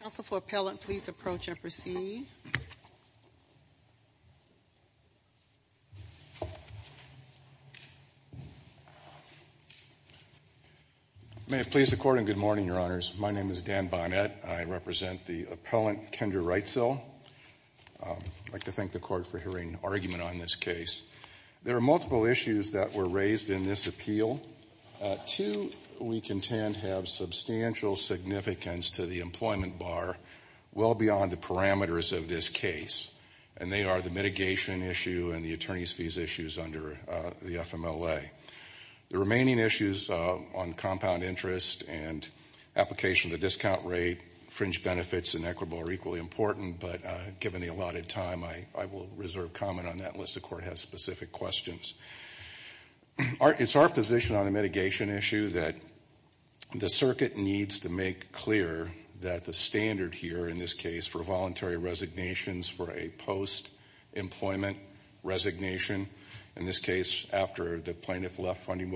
Council for Appellant, please approach and proceed. May it please the Court, and good morning, Your Honors. My name is Dan Bonnett. I represent the appellant, Kendra Wrightsell. I'd like to thank the Court for hearing an argument on this case. There are multiple issues that were raised in this appeal. Two, we contend, have substantial significance to the employment bar, well beyond the parameters of this case, and they are the mitigation issue and the attorney's fees issues under the FMLA. The merits and equitable are equally important, but given the allotted time, I will reserve comment on that unless the Court has specific questions. It's our position on the mitigation issue that the circuit needs to make clear that the standard here in this case for voluntary resignations for a post-employment resignation, in this case after the plaintiff left Funding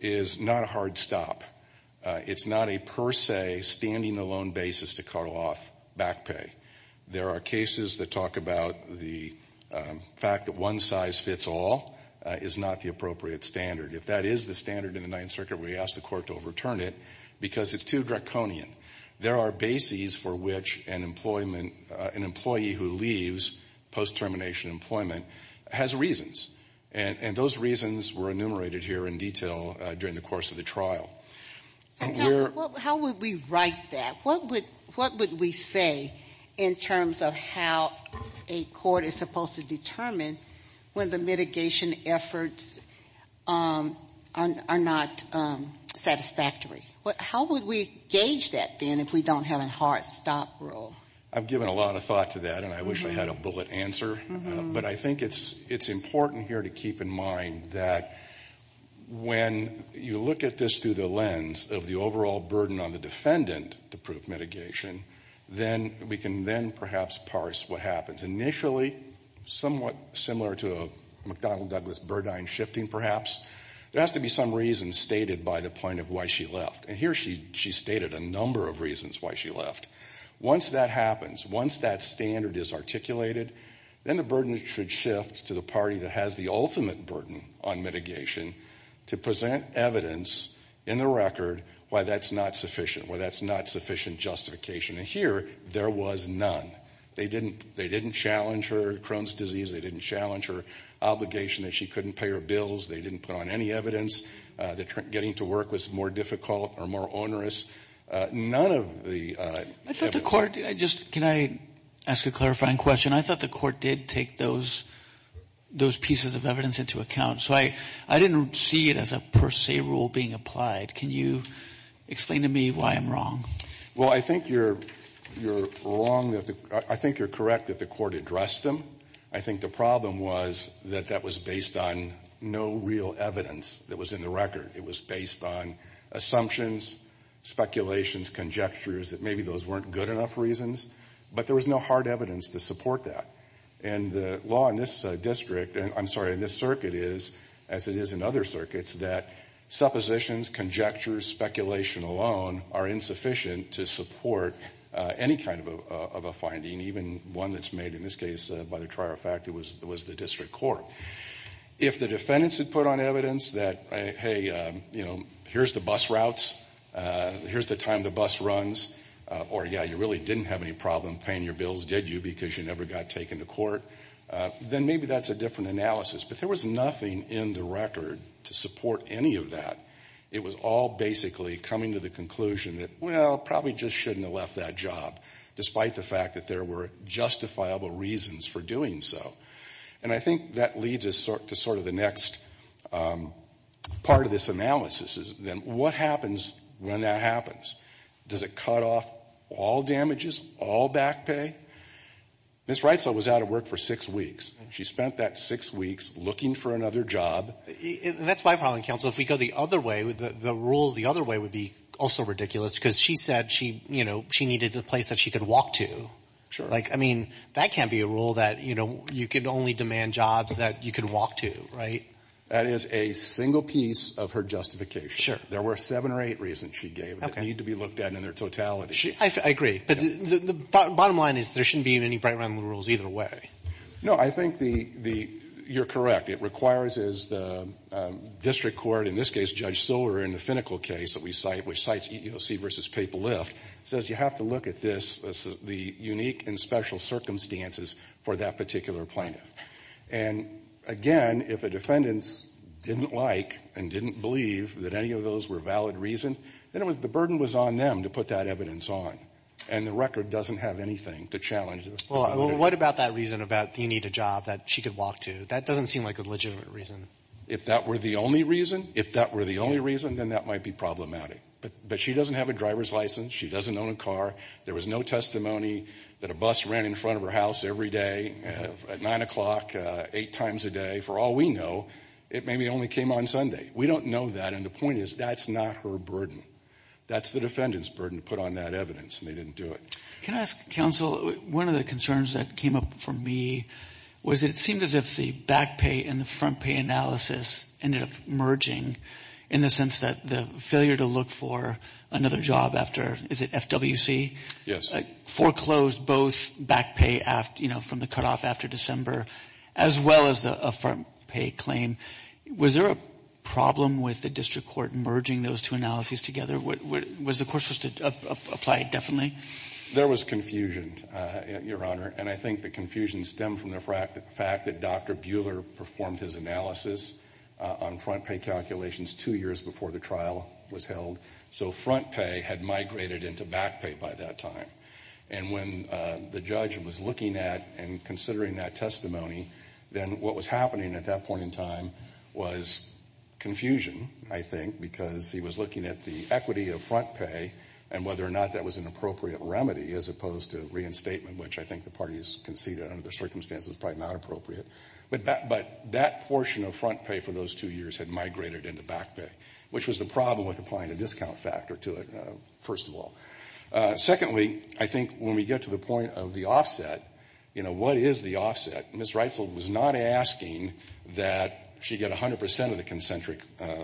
is not a hard stop. It's not a per se standing alone basis to cut off back pay. There are cases that talk about the fact that one size fits all is not the appropriate standard. If that is the standard in the Ninth Circuit, we ask the Court to overturn it because it's too draconian. There are bases for which an employee who leaves post-termination employment has reasons, and those reasons were enumerated here in detail during the course of the trial. How would we write that? What would we say in terms of how a court is supposed to determine when the mitigation efforts are not satisfactory? How would we gauge that then if we don't have a hard stop rule? I've given a lot of thought to that, and I wish I had a bullet answer, but I think it's important here to keep in mind that when you look at this through the lens of the overall burden on the defendant to prove mitigation, then we can then perhaps parse what happens. Initially, somewhat similar to a McDonnell-Douglas-Burdine shifting perhaps, there has to be some reason stated by the plaintiff why she left. And here she's stated a number of reasons why she left. Once that happens, once that standard is articulated, then the burden should shift to the party that has the ultimate burden on mitigation to present evidence in the record why that's not sufficient, why that's not sufficient justification. And here, there was none. They didn't challenge her Crohn's disease. They didn't challenge her obligation that she couldn't pay her bills. They didn't put on any evidence that getting to work was more difficult or more onerous. None of the evidence... I thought the court... Can I ask a clarifying question? I thought the court did take those pieces of evidence into account, so I didn't see it as a per se rule being applied. Can you explain to me why I'm wrong? Well, I think you're wrong. I think you're correct that the court addressed them. I think the problem was that that was based on no real evidence that was in the record. It was based on assumptions, speculations, conjectures, that maybe those weren't good enough reasons, but there was no hard evidence to support that. And the law in this circuit is, as it is in other circuits, that suppositions, conjectures, speculation alone are insufficient to support any kind of a finding, even one that's made, in this case, by the trier of fact, it was the district court. If the defendants had put on evidence that, hey, you know, here's the bus routes, here's the time the bus runs, or yeah, you really didn't have any problem paying your bills, did you, because you never got taken to court, then maybe that's a different analysis. But there was nothing in the record to support any of that. It was all basically coming to the conclusion that, well, probably just shouldn't have left that job, despite the fact that there were justifiable reasons for doing so. And I think that leads us to sort of the next part of this analysis, then what happens when that happens? Does it cut off all damages, all back pay? Ms. Reitzel was out of work for six weeks. She spent that six weeks looking for another job. And that's my problem, counsel. If we go the other way, the rules the other way would be also ridiculous, because she said she, you know, she needed a place that she could walk to. Like, I mean, that can't be a rule that, you know, you could only demand jobs that you could walk to, right? That is a single piece of her justification. There were seven or eight reasons she gave that need to be looked at in their totality. I agree. But the bottom line is there shouldn't be any bright, round rules either way. No, I think the, you're correct. It requires, as the district court, in this case, Judge Silver in the finical case that we cite, which cites EEOC v. Paperlift, says you have to look at this, the unique and special circumstances for that particular plaintiff. And again, if a defendant didn't like and didn't believe that any of those were valid reasons, then it was, the burden was on them to put that evidence on. And the record doesn't have anything to challenge this. Well, what about that reason about you need a job that she could walk to? That doesn't seem like a legitimate reason. If that were the only reason, if that were the only reason, then that might be problematic. But she doesn't have a driver's license. She doesn't own a car. There was no testimony that a bus ran in front of her house every day at nine o'clock, eight times a day. For all we know, it maybe only came on Sunday. We don't know that. And the point is, that's not her burden. That's the defendant's burden to put on that evidence, and they didn't do it. Can I ask, counsel, one of the concerns that came up for me was it seemed as if the back pay and the front pay analysis ended up merging in the sense that the failure to look for another job after, is it FWC? Foreclosed both back pay, you know, from the cutoff after December, as well as a front pay claim. Was there a problem with the district court merging those two analyses together? Was the court supposed to apply it differently? There was confusion, Your Honor. And I think the confusion stemmed from the fact that Dr. Buehler performed his analysis on front pay calculations two years before the trial was held. So front pay had migrated into back pay by that time. And when the judge was looking at and considering that testimony, then what was happening at that point in time was confusion, I think, because he was looking at the equity of front pay and whether or not that was an appropriate remedy as opposed to reinstatement, which I think the parties conceded under the circumstances was probably not appropriate. But that portion of front pay for those two years had migrated into back pay, which was the problem with applying a discount factor to it, first of all. Secondly, I think when we get to the point of the offset, you know, what is the offset? Ms. Reitzel was not asking that she get 100 percent of the concentric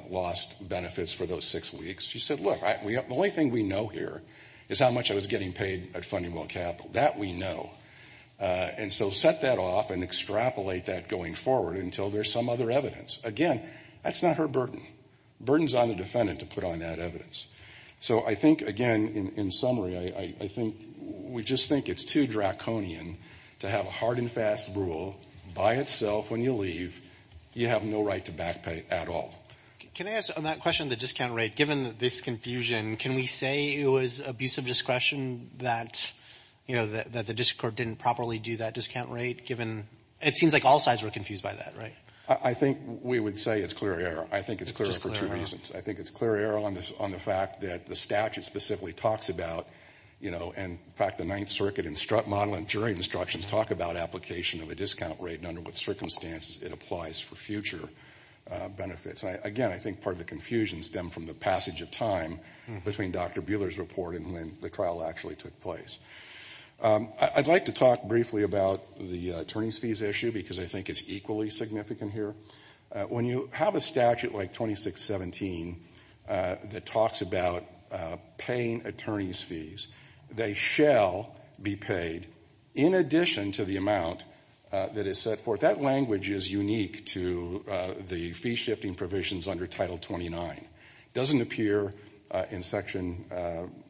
lost benefits for those six weeks. She said, look, the only thing we know here is how much I was getting capital. That we know. And so set that off and extrapolate that going forward until there's some other evidence. Again, that's not her burden. Burden's on the defendant to put on that evidence. So I think, again, in summary, I think we just think it's too draconian to have a hard and fast rule by itself when you leave, you have no right to back pay at all. Can I ask, on that question of the discount rate, given this confusion, can we say it was abusive discretion that, you know, that the district court didn't properly do that discount rate, given it seems like all sides were confused by that, right? I think we would say it's clear error. I think it's clear for two reasons. I think it's clear error on the fact that the statute specifically talks about, you know, and in fact the Ninth Circuit model and jury instructions talk about application of a discount rate and under what circumstances it applies for future benefits. Again, I think part of the confusion stemmed from the passage of time between Dr. Buehler's report and when the trial actually took place. I'd like to talk briefly about the attorney's fees issue because I think it's equally significant here. When you have a statute like 2617 that talks about paying attorney's fees, they shall be paid in addition to the amount that is set forth. That language is unique to the fee-shifting provisions under Title 29. It doesn't appear in Section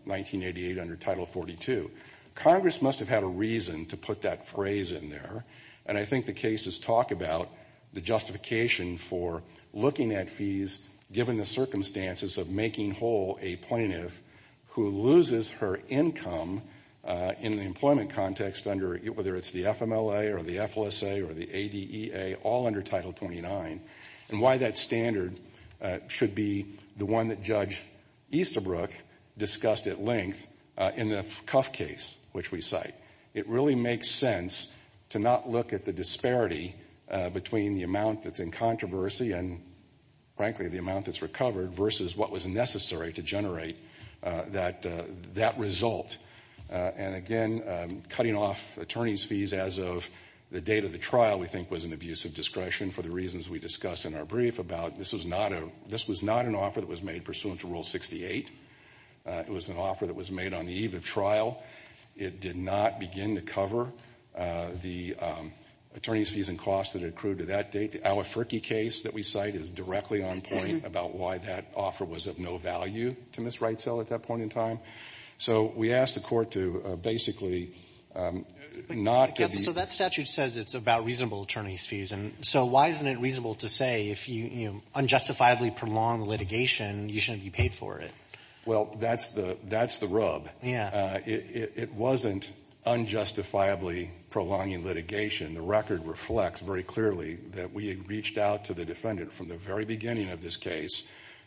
1988 under Title 42. Congress must have had a reason to put that phrase in there, and I think the cases talk about the justification for looking at fees given the circumstances of making whole a plaintiff who loses her income in the employment context under, whether it's the FMLA or the should be the one that Judge Easterbrook discussed at length in the Cuff case, which we cite. It really makes sense to not look at the disparity between the amount that's in controversy and, frankly, the amount that's recovered versus what was necessary to generate that result. And again, cutting off attorney's fees as of the date of the trial we think was an abusive discretion for the reasons we discuss in our brief about this was not an offer that was made pursuant to Rule 68. It was an offer that was made on the eve of trial. It did not begin to cover the attorney's fees and costs that accrued to that date. The Aliferki case that we cite is directly on point about why that offer was of no value to Ms. Wrightsell at that point in time. So we ask the Court to basically not give So that statute says it's about reasonable attorney's fees. So why isn't it reasonable to say if you unjustifiably prolong litigation, you shouldn't be paid for it? Well, that's the rub. It wasn't unjustifiably prolonging litigation. The record reflects very clearly that we had reached out to the defendant from the very beginning of this case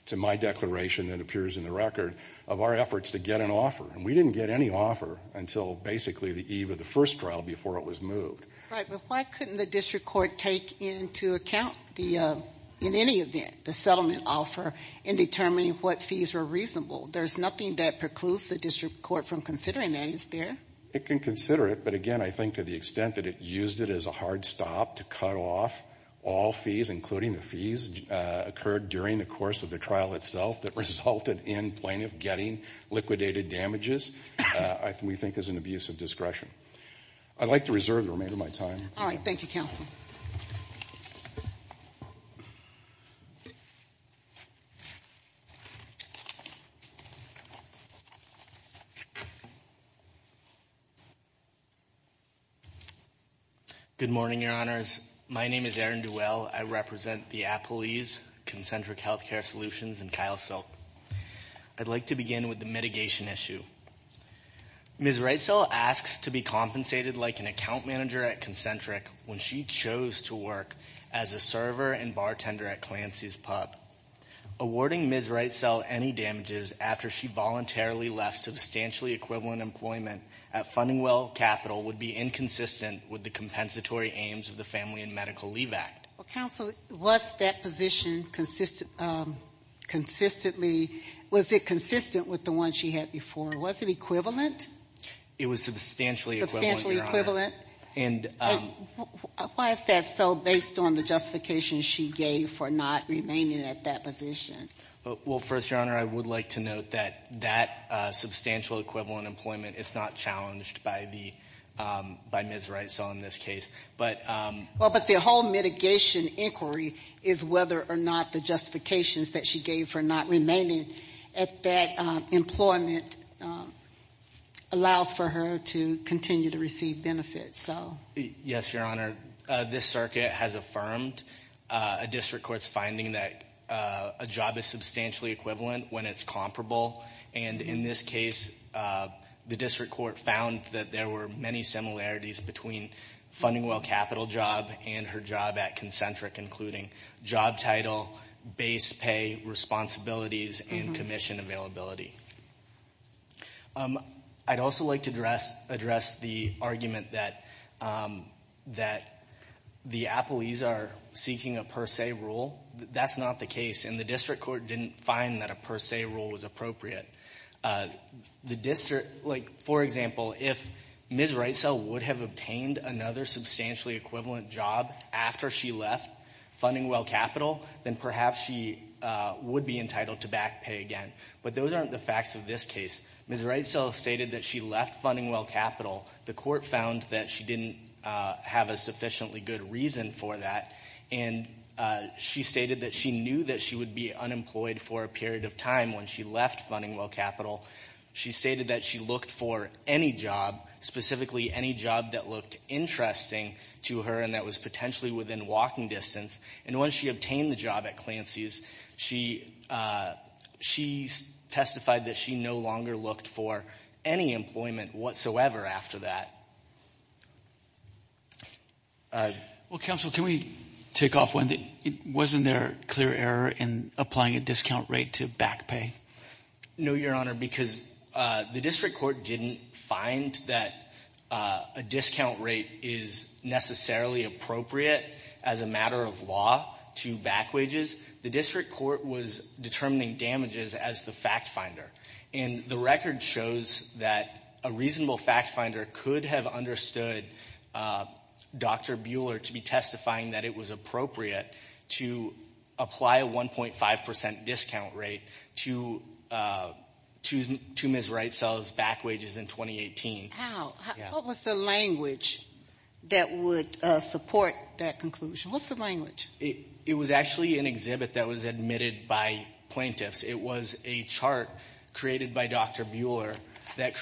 to my declaration that appears in the record of our efforts to get an offer. And we didn't get any offer until basically the eve of the first trial before it was moved. Right. But why couldn't the district court take into account the, in any event, the settlement offer in determining what fees were reasonable? There's nothing that precludes the district court from considering that, is there? It can consider it. But again, I think to the extent that it used it as a hard stop to cut off all fees, including the fees occurred during the course of the trial itself that resulted in plaintiff getting liquidated damages, we think there's an abuse of discretion. I'd like to reserve the remainder of my time. All right. Thank you, counsel. Good morning, Your Honors. My name is Aaron Duell. I represent the Appleeys Concentric Healthcare Solutions and Kyle Silk. I'd like to begin with the mitigation issue. Ms. Wrightsell asks to be compensated like an account manager at Concentric when she chose to work as a server and bartender at Clancy's Pub. Awarding Ms. Wrightsell any damages after she voluntarily left substantially equivalent employment at Fundingwell Capital would be inconsistent with the compensatory aims of the Family and Medical Leave Act. Well, counsel, was that position consistent with the one she had before? Was it equivalent? It was substantially equivalent. Substantially equivalent? Why is that so based on the justification she gave for not remaining at that position? Well, first, Your Honor, I would like to note that that substantial equivalent employment is not challenged by Ms. Wrightsell in this case. Well, but the whole mitigation inquiry is whether or not the justifications that she gave for not remaining at that employment allows for her to continue to receive benefits. Yes, Your Honor. This circuit has affirmed a district court's finding that a job is substantially equivalent when it's comparable. And in this case, the district court found that there were many similarities between Fundingwell Capital job and her job at Concentric, including job title, base pay, responsibilities, and commission availability. I'd also like to address the argument that the appellees are seeking a per se rule. That's not the case. And the district court didn't find that a per se rule was appropriate. The Ms. Wrightsell would have obtained another substantially equivalent job after she left Fundingwell Capital, then perhaps she would be entitled to back pay again. But those aren't the facts of this case. Ms. Wrightsell stated that she left Fundingwell Capital. The court found that she didn't have a sufficiently good reason for that. And she stated that she knew that she would be unemployed for a period of time when she left Fundingwell Capital. She stated that she looked for any job, specifically any job that looked interesting to her and that was potentially within walking distance. And once she obtained the job at Clancy's, she testified that she no longer looked for any employment whatsoever after that. Well, counsel, can we take off one thing? Wasn't there a clear error in applying a discount rate to back pay? No, Your Honor, because the district court didn't find that a discount rate is necessarily appropriate as a matter of law to back wages. The district court was determining damages as the fact finder. And the record shows that a reasonable fact finder could have understood Dr. Bueller to be testifying that it was appropriate to apply a 1.5% discount rate to Ms. Wright's back wages in 2018. How? What was the language that would support that conclusion? What's the language? It was actually an exhibit that was admitted by plaintiffs. It was a chart created by Dr. Bueller that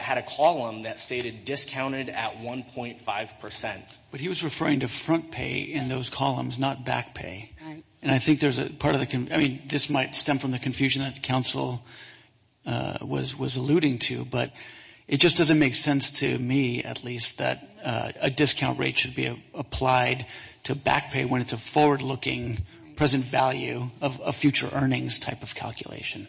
had a column that stated discounted at 1.5%. But he was referring to front pay in those columns, not back pay. And I think there's a part of the, I mean, this might stem from the confusion that counsel was alluding to, but it just doesn't make sense to me, at least, that a discount rate should be applied to back pay when it's a forward-looking, present value of future earnings type of calculation.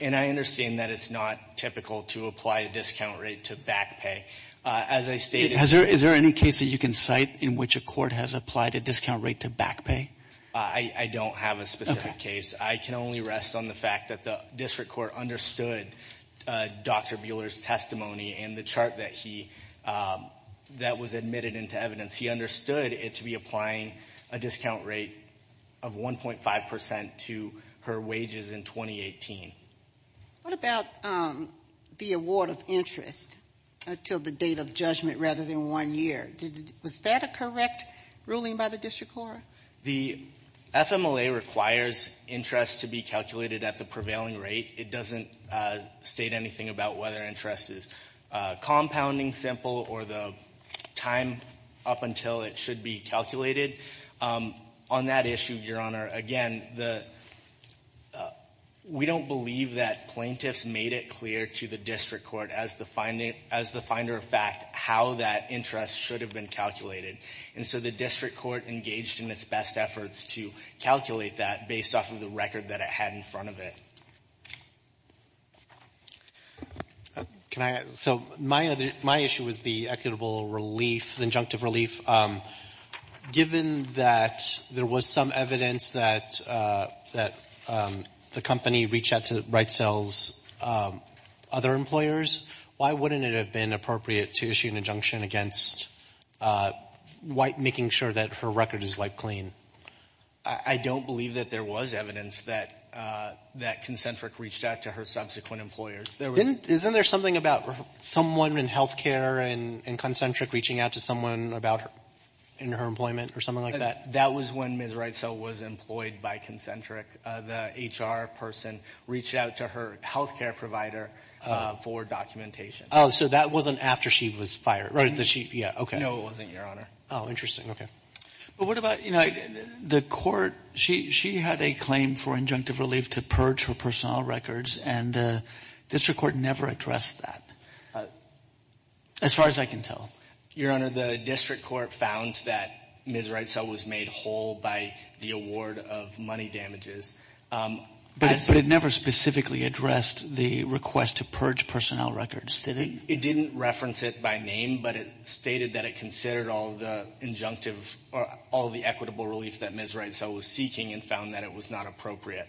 And I understand that it's not typical to apply a discount rate to back pay. As I stated – Is there any case that you can cite in which a court has applied a discount rate to back pay? I don't have a specific case. I can only rest on the fact that the district court understood Dr. Bueller's testimony and the chart that he, that was admitted into evidence. He understood it to be applying a discount rate of 1.5% to her wages in 2018. What about the award of interest until the date of judgment rather than one year? Was that a correct ruling by the district court? The FMLA requires interest to be calculated at the prevailing rate. It doesn't state anything about whether interest is compounding simple or the time up until it should be calculated. On that issue, Your Honor, again, the – we don't believe that plaintiffs made it clear to the district court as the finder of fact how that interest should have been calculated. And so the district court engaged in its best efforts to calculate that based off of the record that it had in front of it. Can I – so my other – my issue was the equitable relief, the injunctive relief. Given that there was some evidence that the company reached out to Wright Sales' other employers, why wouldn't it have been appropriate to issue an injunction against making sure that her record is wiped clean? I don't believe that there was evidence that Concentric reached out to her subsequent employers. Isn't there something about someone in health care and Concentric reaching out to someone about – in her employment or something like that? That was when Ms. Wright Sales was employed by Concentric. The HR person reached out to her health care provider for documentation. Oh, so that wasn't after she was fired, right? Did she – yeah, okay. No, it wasn't, Your Honor. Oh, interesting. Okay. But what about – you know, the court – she had a claim for injunctive relief to purge her personal records and the district court never addressed that, as far as I can tell. Your Honor, the district court found that Ms. Wright Sales was made whole by the award of money damages. But it never specifically addressed the request to purge personnel records, did it? It didn't reference it by name, but it stated that it considered all the injunctive – or all the equitable relief that Ms. Wright Sales was seeking and found that it was not appropriate.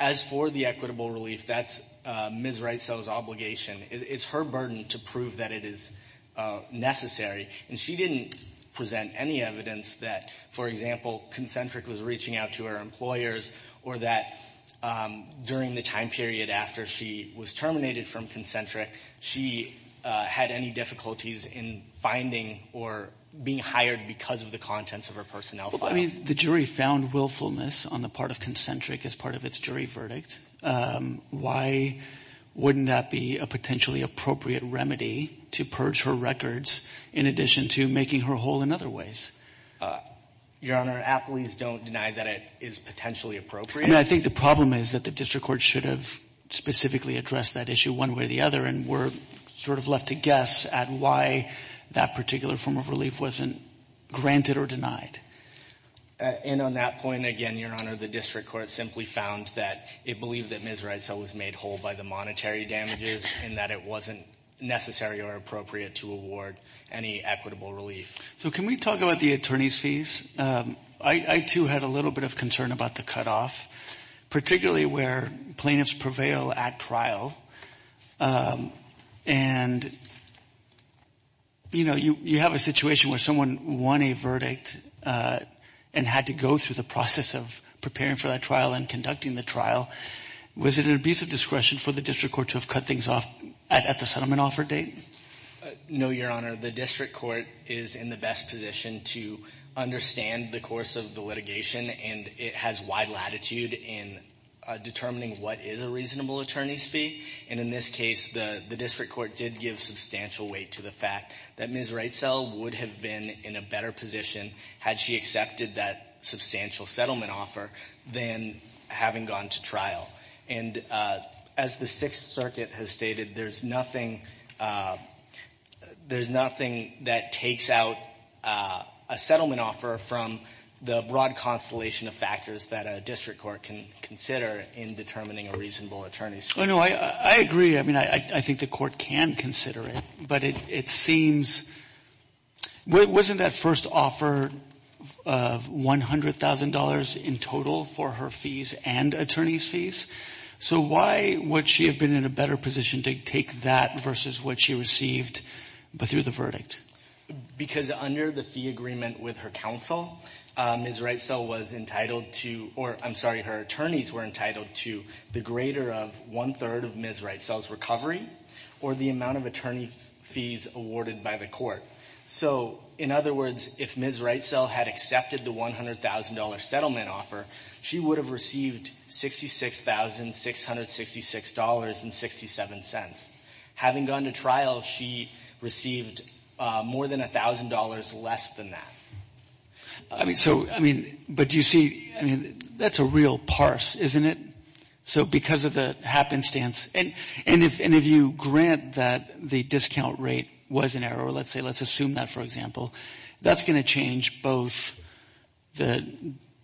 As for the equitable relief, that's Ms. Wright Sales' obligation. It's her burden to prove that it is necessary. And she didn't present any evidence that, for example, Concentric was reaching out to her employers or that, during the time period after she was terminated from Concentric, she had any difficulties in finding or being hired because of the contents of her personnel file. Well, I mean, the jury found willfulness on the part of Concentric as part of its jury verdict. Why wouldn't that be a potentially appropriate remedy to purge her records in addition to making her whole in other ways? Your Honor, athletes don't deny that it is potentially appropriate. I think the problem is that the district court should have specifically addressed that issue one way or the other, and we're sort of left to guess at why that particular form of relief wasn't granted or denied. And on that point, again, Your Honor, the district court simply found that it believed that Ms. Wright Sales was made whole by the monetary damages and that it wasn't necessary or appropriate to award any equitable relief. So can we talk about the attorney's fees? I, too, had a little bit of concern about the cutoff, particularly where plaintiffs prevail at trial. And, you know, you have a situation where someone won a verdict and had to go through the process of preparing for that trial and conducting the trial. Was it an abuse of discretion for the district court to have cut things off at the settlement offer date? No, Your Honor, the district court is in the best position to understand the course of the litigation, and it has wide latitude in determining what is a reasonable attorney's fee. And in this case, the district court did give substantial weight to the fact that Ms. Wright Sales would have been in a better position had she accepted that substantial settlement offer than having gone to trial. And as the Sixth Circuit has stated, there's nothing there's nothing that takes out a settlement offer from the broad constellation of factors that a district court can consider in determining a reasonable attorney's fee. Oh, no, I agree. I mean, I think the court can consider it, but it seems wasn't that first offer of $100,000 in total for her fees and attorney's fees. So why would she have been in a better position to take that versus what she received but through the verdict? Because under the fee agreement with her counsel, Ms. Wright Sales was entitled to or I'm sorry, her attorneys were entitled to the greater of one third of Ms. Wright Sales' recovery or the amount of attorney fees awarded by the court. So in other words, if Ms. Wright Sales had accepted the $100,000 settlement offer, she would have received $66,666.67. Having gone to trial, she received more than $1,000 less than that. I mean, so I mean, but you see, I mean, that's a real parse, isn't it? So because of the happenstance and and if and if you grant that the discount rate was an error, let's say, let's assume that, for example, that's going to change both the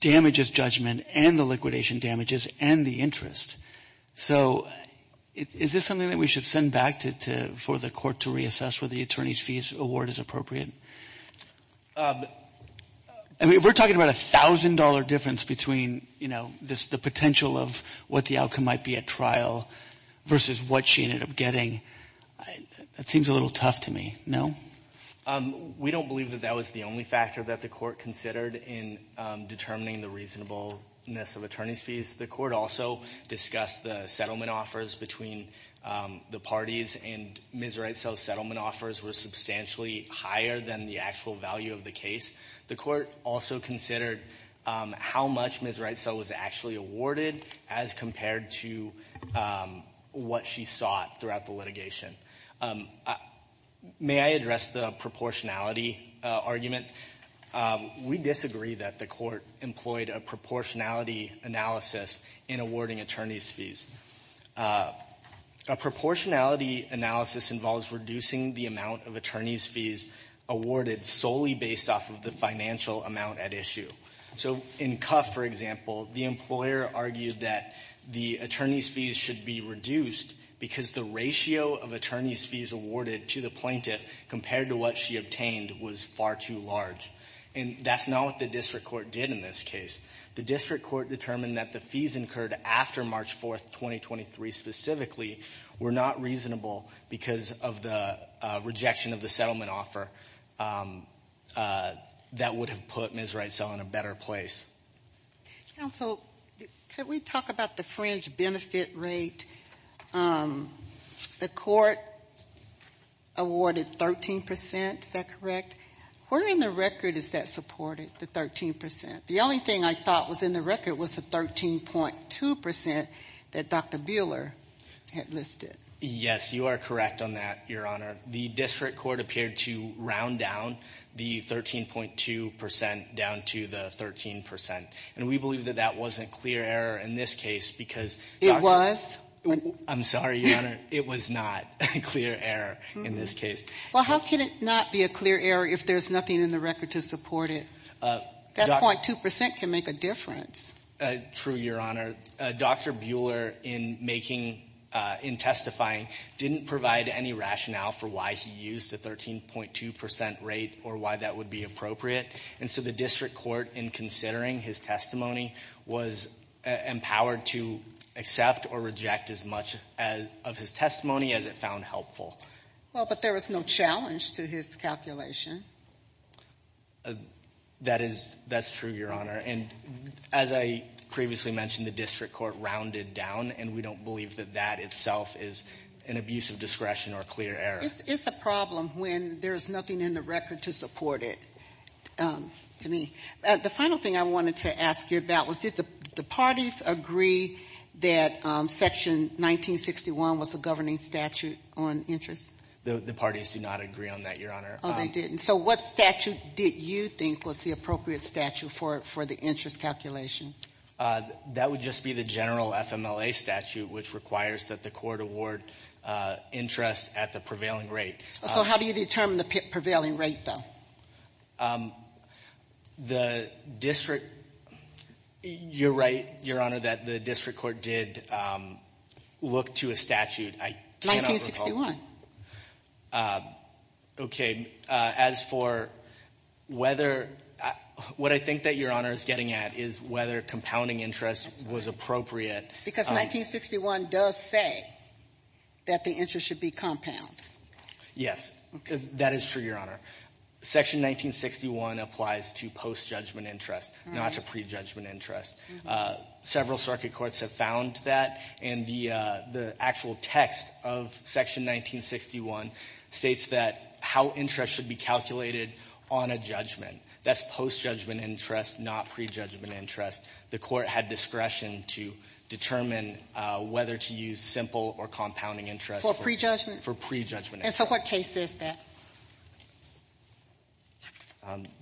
damages judgment and the liquidation damages and the interest. So is this something that we should send back to for the court to reassess where the attorney's fees award is appropriate? I mean, we're talking about a thousand dollar difference between, you know, this the potential of what the outcome might be at trial versus what she ended up getting. That seems a little tough to me. No, we don't believe that that was the only factor that the court considered in determining the reasonableness of attorney's fees. The court also discussed the settlement offers between the parties and Ms. Wright's settlement offers were substantially higher than the actual value of the case. The court also considered how much Ms. Wright's was actually awarded as compared to what she sought throughout the litigation. May I address the proportionality argument? We disagree that the court employed a proportionality analysis in awarding attorney's fees. A proportionality analysis involves reducing the amount of attorney's fees awarded solely based off of the financial amount at issue. So in Cuff, for example, the employer argued that the attorney's fees should be reduced because the ratio of attorney's fees awarded to the plaintiff compared to what she obtained was far too large. And that's not what the district court did in this case. The district court determined that the fees incurred after March 4th, 2023 specifically were not reasonable because of the rejection of the settlement offer that would have put Ms. Wright's out in a better place. Counsel, can we talk about the fringe benefit rate? The court awarded 13 percent, is that correct? Where in the record is that supported, the 13 percent? The only thing I thought was in the record was the 13.2 percent that Dr. Buehler had listed. Yes, you are correct on that, Your Honor. The district court appeared to round down the 13.2 percent down to the 13 percent. And we believe that that wasn't clear error in this case because it was. I'm sorry, Your Honor. It was not a clear error in this case. Well, how can it not be a clear error if there's nothing in the record to support it? That 0.2 percent can make a difference. True, Your Honor. Dr. Buehler did not provide any rationale for why he used the 13.2 percent rate or why that would be appropriate. And so the district court, in considering his testimony, was empowered to accept or reject as much of his testimony as it found helpful. Well, but there was no challenge to his calculation. That is that's true, Your Honor. And as I previously mentioned, the district court rounded down. And we don't believe that that itself is an abuse of discretion or clear error. It's a problem when there is nothing in the record to support it to me. The final thing I wanted to ask you about was did the parties agree that Section 1961 was a governing statute on interest? The parties do not agree on that, Your Honor. Oh, they didn't. And so what statute did you think was the appropriate statute for the interest calculation? That would just be the general FMLA statute, which requires that the court award interest at the prevailing rate. So how do you determine the prevailing rate, though? The district, you're right, Your Honor, that the district court did look to a statute. I can't recall. 1961. Okay. As for whether, what I think that Your Honor is getting at is whether compounding interest was appropriate. Because 1961 does say that the interest should be compound. Yes, that is true, Your Honor. Section 1961 applies to post-judgment interest, not to pre-judgment interest. Several circuit courts have found that, and the actual text of Section 1961 states that how interest should be calculated on a judgment. That's post-judgment interest, not pre-judgment interest. The court had discretion to determine whether to use simple or compounding interest for pre-judgment. And so what case is that?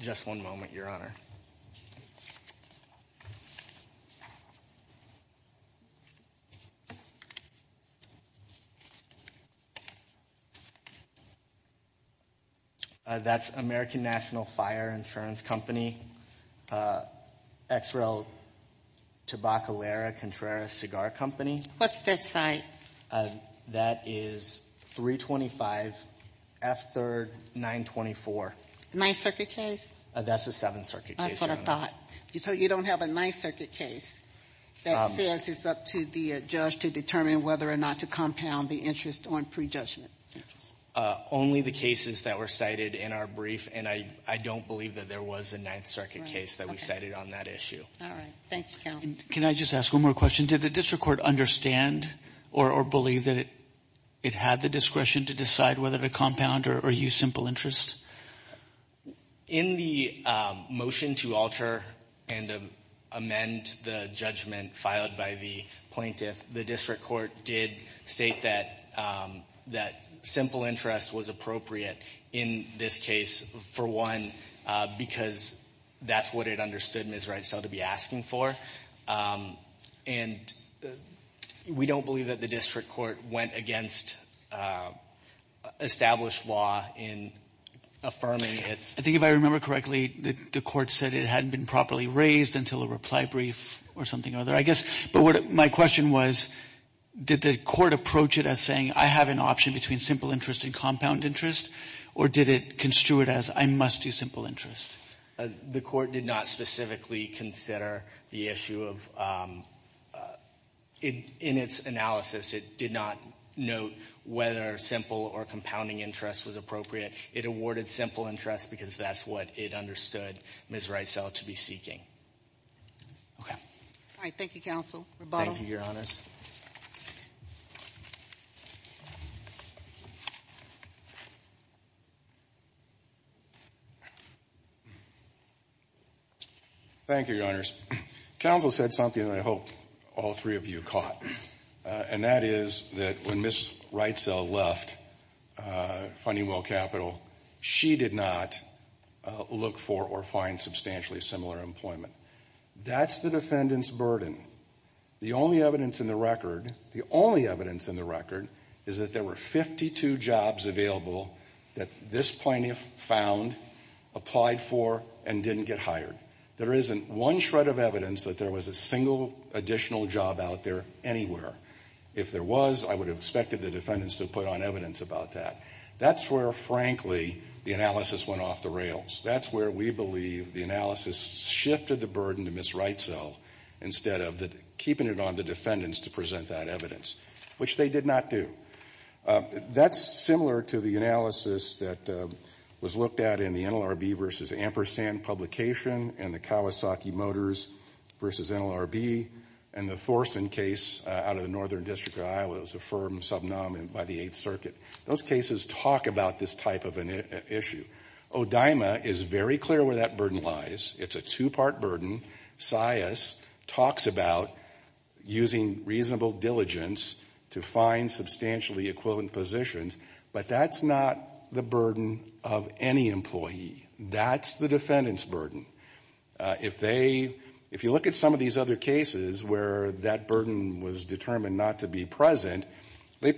Just one moment, Your Honor. That's American National Fire Insurance Company, XREL, Tabacalera, Contreras Cigar Company. What's that site? That is 325 F. 3rd, 924. My circuit case? That's a Seventh Circuit case, Your Honor. I sort of thought. So you don't have a Ninth Circuit case that says it's up to the judge to determine whether or not to compound the interest on pre-judgment interest? Only the cases that were cited in our brief, and I don't believe that there was a Ninth Circuit case that we cited on that issue. All right. Thank you, counsel. Can I just ask one more question? Did the district court understand or believe that it had the discretion to decide whether to compound or use simple interest? In the motion to alter and amend the judgment filed by the plaintiff, the district court did state that simple interest was appropriate in this case, for one, because that's what it understood Ms. Wright-Sell to be asking for. And we don't believe that the district court went against established law in affirming its. I think if I remember correctly, the court said it hadn't been properly raised until a reply brief or something or other, I guess. But my question was, did the court approach it as saying, I have an option between simple interest and compound interest, or did it construe it as I must do simple interest? The court did not specifically consider the issue of — in its analysis, it did not note whether simple or compounding interest was appropriate. It awarded simple interest because that's what it understood Ms. Wright-Sell to be seeking. Okay. All right. Thank you, counsel. Thank you, Your Honors. Thank you, Your Honors. Counsel said something that I hope all three of you caught, and that is that when Ms. Wright-Sell left Funding Will Capital, she did not look for or find substantially similar employment. That's the defendant's burden. The only evidence in the record — the only evidence in the record is that there were 52 jobs available that this plaintiff found, applied for, and didn't get hired. There isn't one shred of evidence that there was a single additional job out there anywhere. If there was, I would have expected the defendants to put on evidence about that. That's where, frankly, the analysis went off the rails. That's where we believe the analysis shifted the burden to Ms. Wright-Sell instead of keeping it on the defendants to present that evidence, which they did not do. That's similar to the analysis that was looked at in the NLRB v. Ampersand publication and the Kawasaki Motors v. NLRB and the Thorson case out of the Northern District of Iowa. It was a firm subnominant by the Eighth Circuit. Those cases talk about this type of an issue. ODIMA is very clear where that burden lies. It's a two-part burden. SIAS talks about using reasonable diligence to find substantially equivalent positions, but that's not the burden of any employee. That's the defendant's burden. If you look at some of these other cases where that burden was determined not to be present, they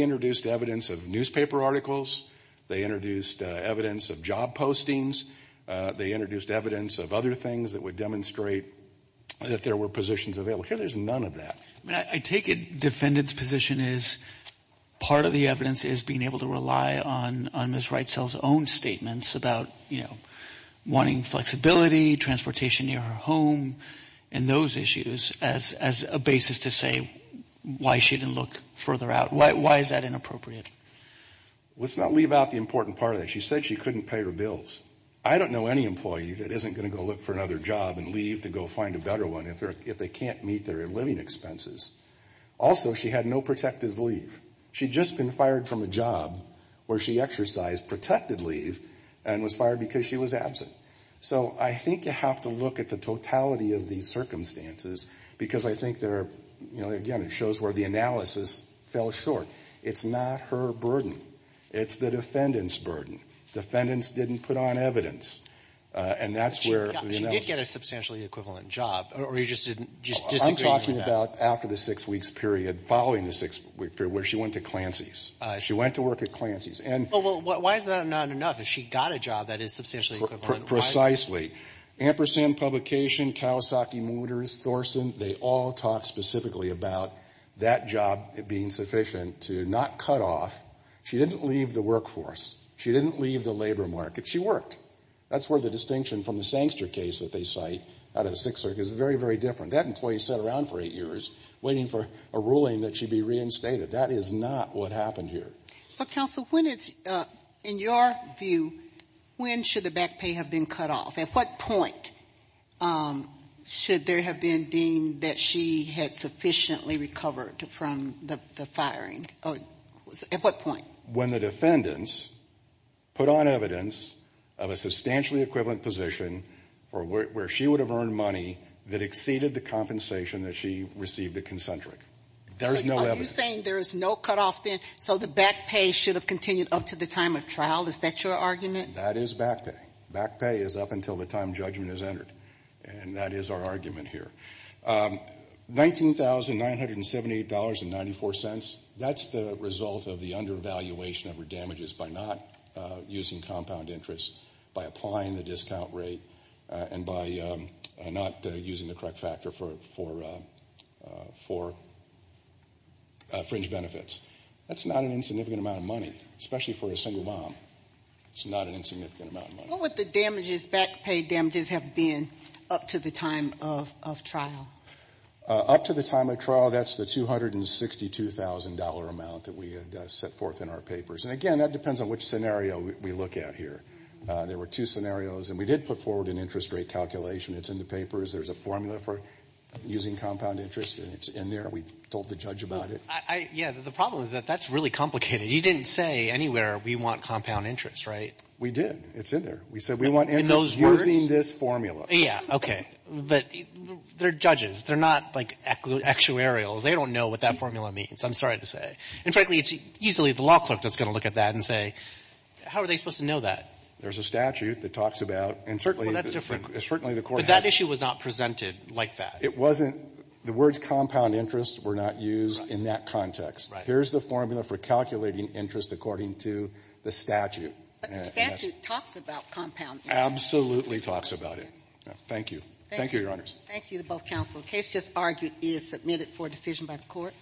introduced evidence of newspaper articles. They introduced evidence of job postings. They introduced evidence of other things that would demonstrate that there were positions available. Here, there's none of that. I mean, I take it defendant's position is part of the evidence is being able to rely on Ms. Wright-Sell's own statements about, you know, wanting flexibility, transportation near her home, and those issues as a basis to say why she didn't look further out. Why is that inappropriate? Let's not leave out the important part of that. She said she couldn't pay her bills. I don't know any employee that isn't going to go look for another job and leave to go find a better one if they can't meet their living expenses. Also, she had no protective leave. She'd just been fired from a job where she exercised protected leave and was fired because she was absent. So I think you have to look at the totality of these circumstances because I think there are, you know, again, it shows where the analysis fell short. It's not her burden. It's the defendant's burden. Defendants didn't put on evidence, and that's where, you know. She did get a substantially equivalent job, or you just didn't, just disagreed with that? I'm talking about after the six weeks period, following the six week period where she went to Clancy's. She went to work at Clancy's. And. Well, why is that not enough? If she got a job that is substantially equivalent, why? Precisely. Ampersand Publication, Kawasaki Motors, Thorson, they all talk specifically about that job being sufficient. To not cut off. She didn't leave the workforce. She didn't leave the labor market. She worked. That's where the distinction from the Sankster case that they cite out of the Sixth Circuit is very, very different. That employee sat around for eight years waiting for a ruling that she'd be reinstated. That is not what happened here. So, counsel, when is, in your view, when should the back pay have been cut off? At what point should there have been deemed that she had sufficiently recovered from the firing? At what point? When the defendants put on evidence of a substantially equivalent position for where she would have earned money that exceeded the compensation that she received at Concentric. There's no evidence. Are you saying there is no cut off then? So the back pay should have continued up to the time of trial? Is that your argument? That is back pay. Back pay is up until the time judgment is entered. And that is our argument here. $19,978.94, that's the result of the undervaluation of her damages by not using compound interest, by applying the discount rate, and by not using the correct factor for fringe benefits. That's not an insignificant amount of money, especially for a single mom. It's not an insignificant amount of money. What would the damages, back pay damages, have been up to the time of trial? Up to the time of trial, that's the $262,000 amount that we had set forth in our papers. And again, that depends on which scenario we look at here. There were two scenarios. And we did put forward an interest rate calculation. It's in the papers. There's a formula for using compound interest, and it's in there. We told the judge about it. Yeah, the problem is that that's really complicated. You didn't say anywhere, we want compound interest, right? We did. It's in there. We said we want interest using this formula. Yeah, okay. But they're judges. They're not, like, actuarials. They don't know what that formula means. I'm sorry to say. And frankly, it's easily the law clerk that's going to look at that and say, how are they supposed to know that? There's a statute that talks about, and certainly the court had to do that. But that issue was not presented like that. It wasn't. The words compound interest were not used in that context. Here's the formula for calculating interest according to the statute. But the statute talks about compound interest. Absolutely talks about it. Thank you. Thank you, Your Honors. Thank you to both counsel. The case just argued is submitted for decision by the court.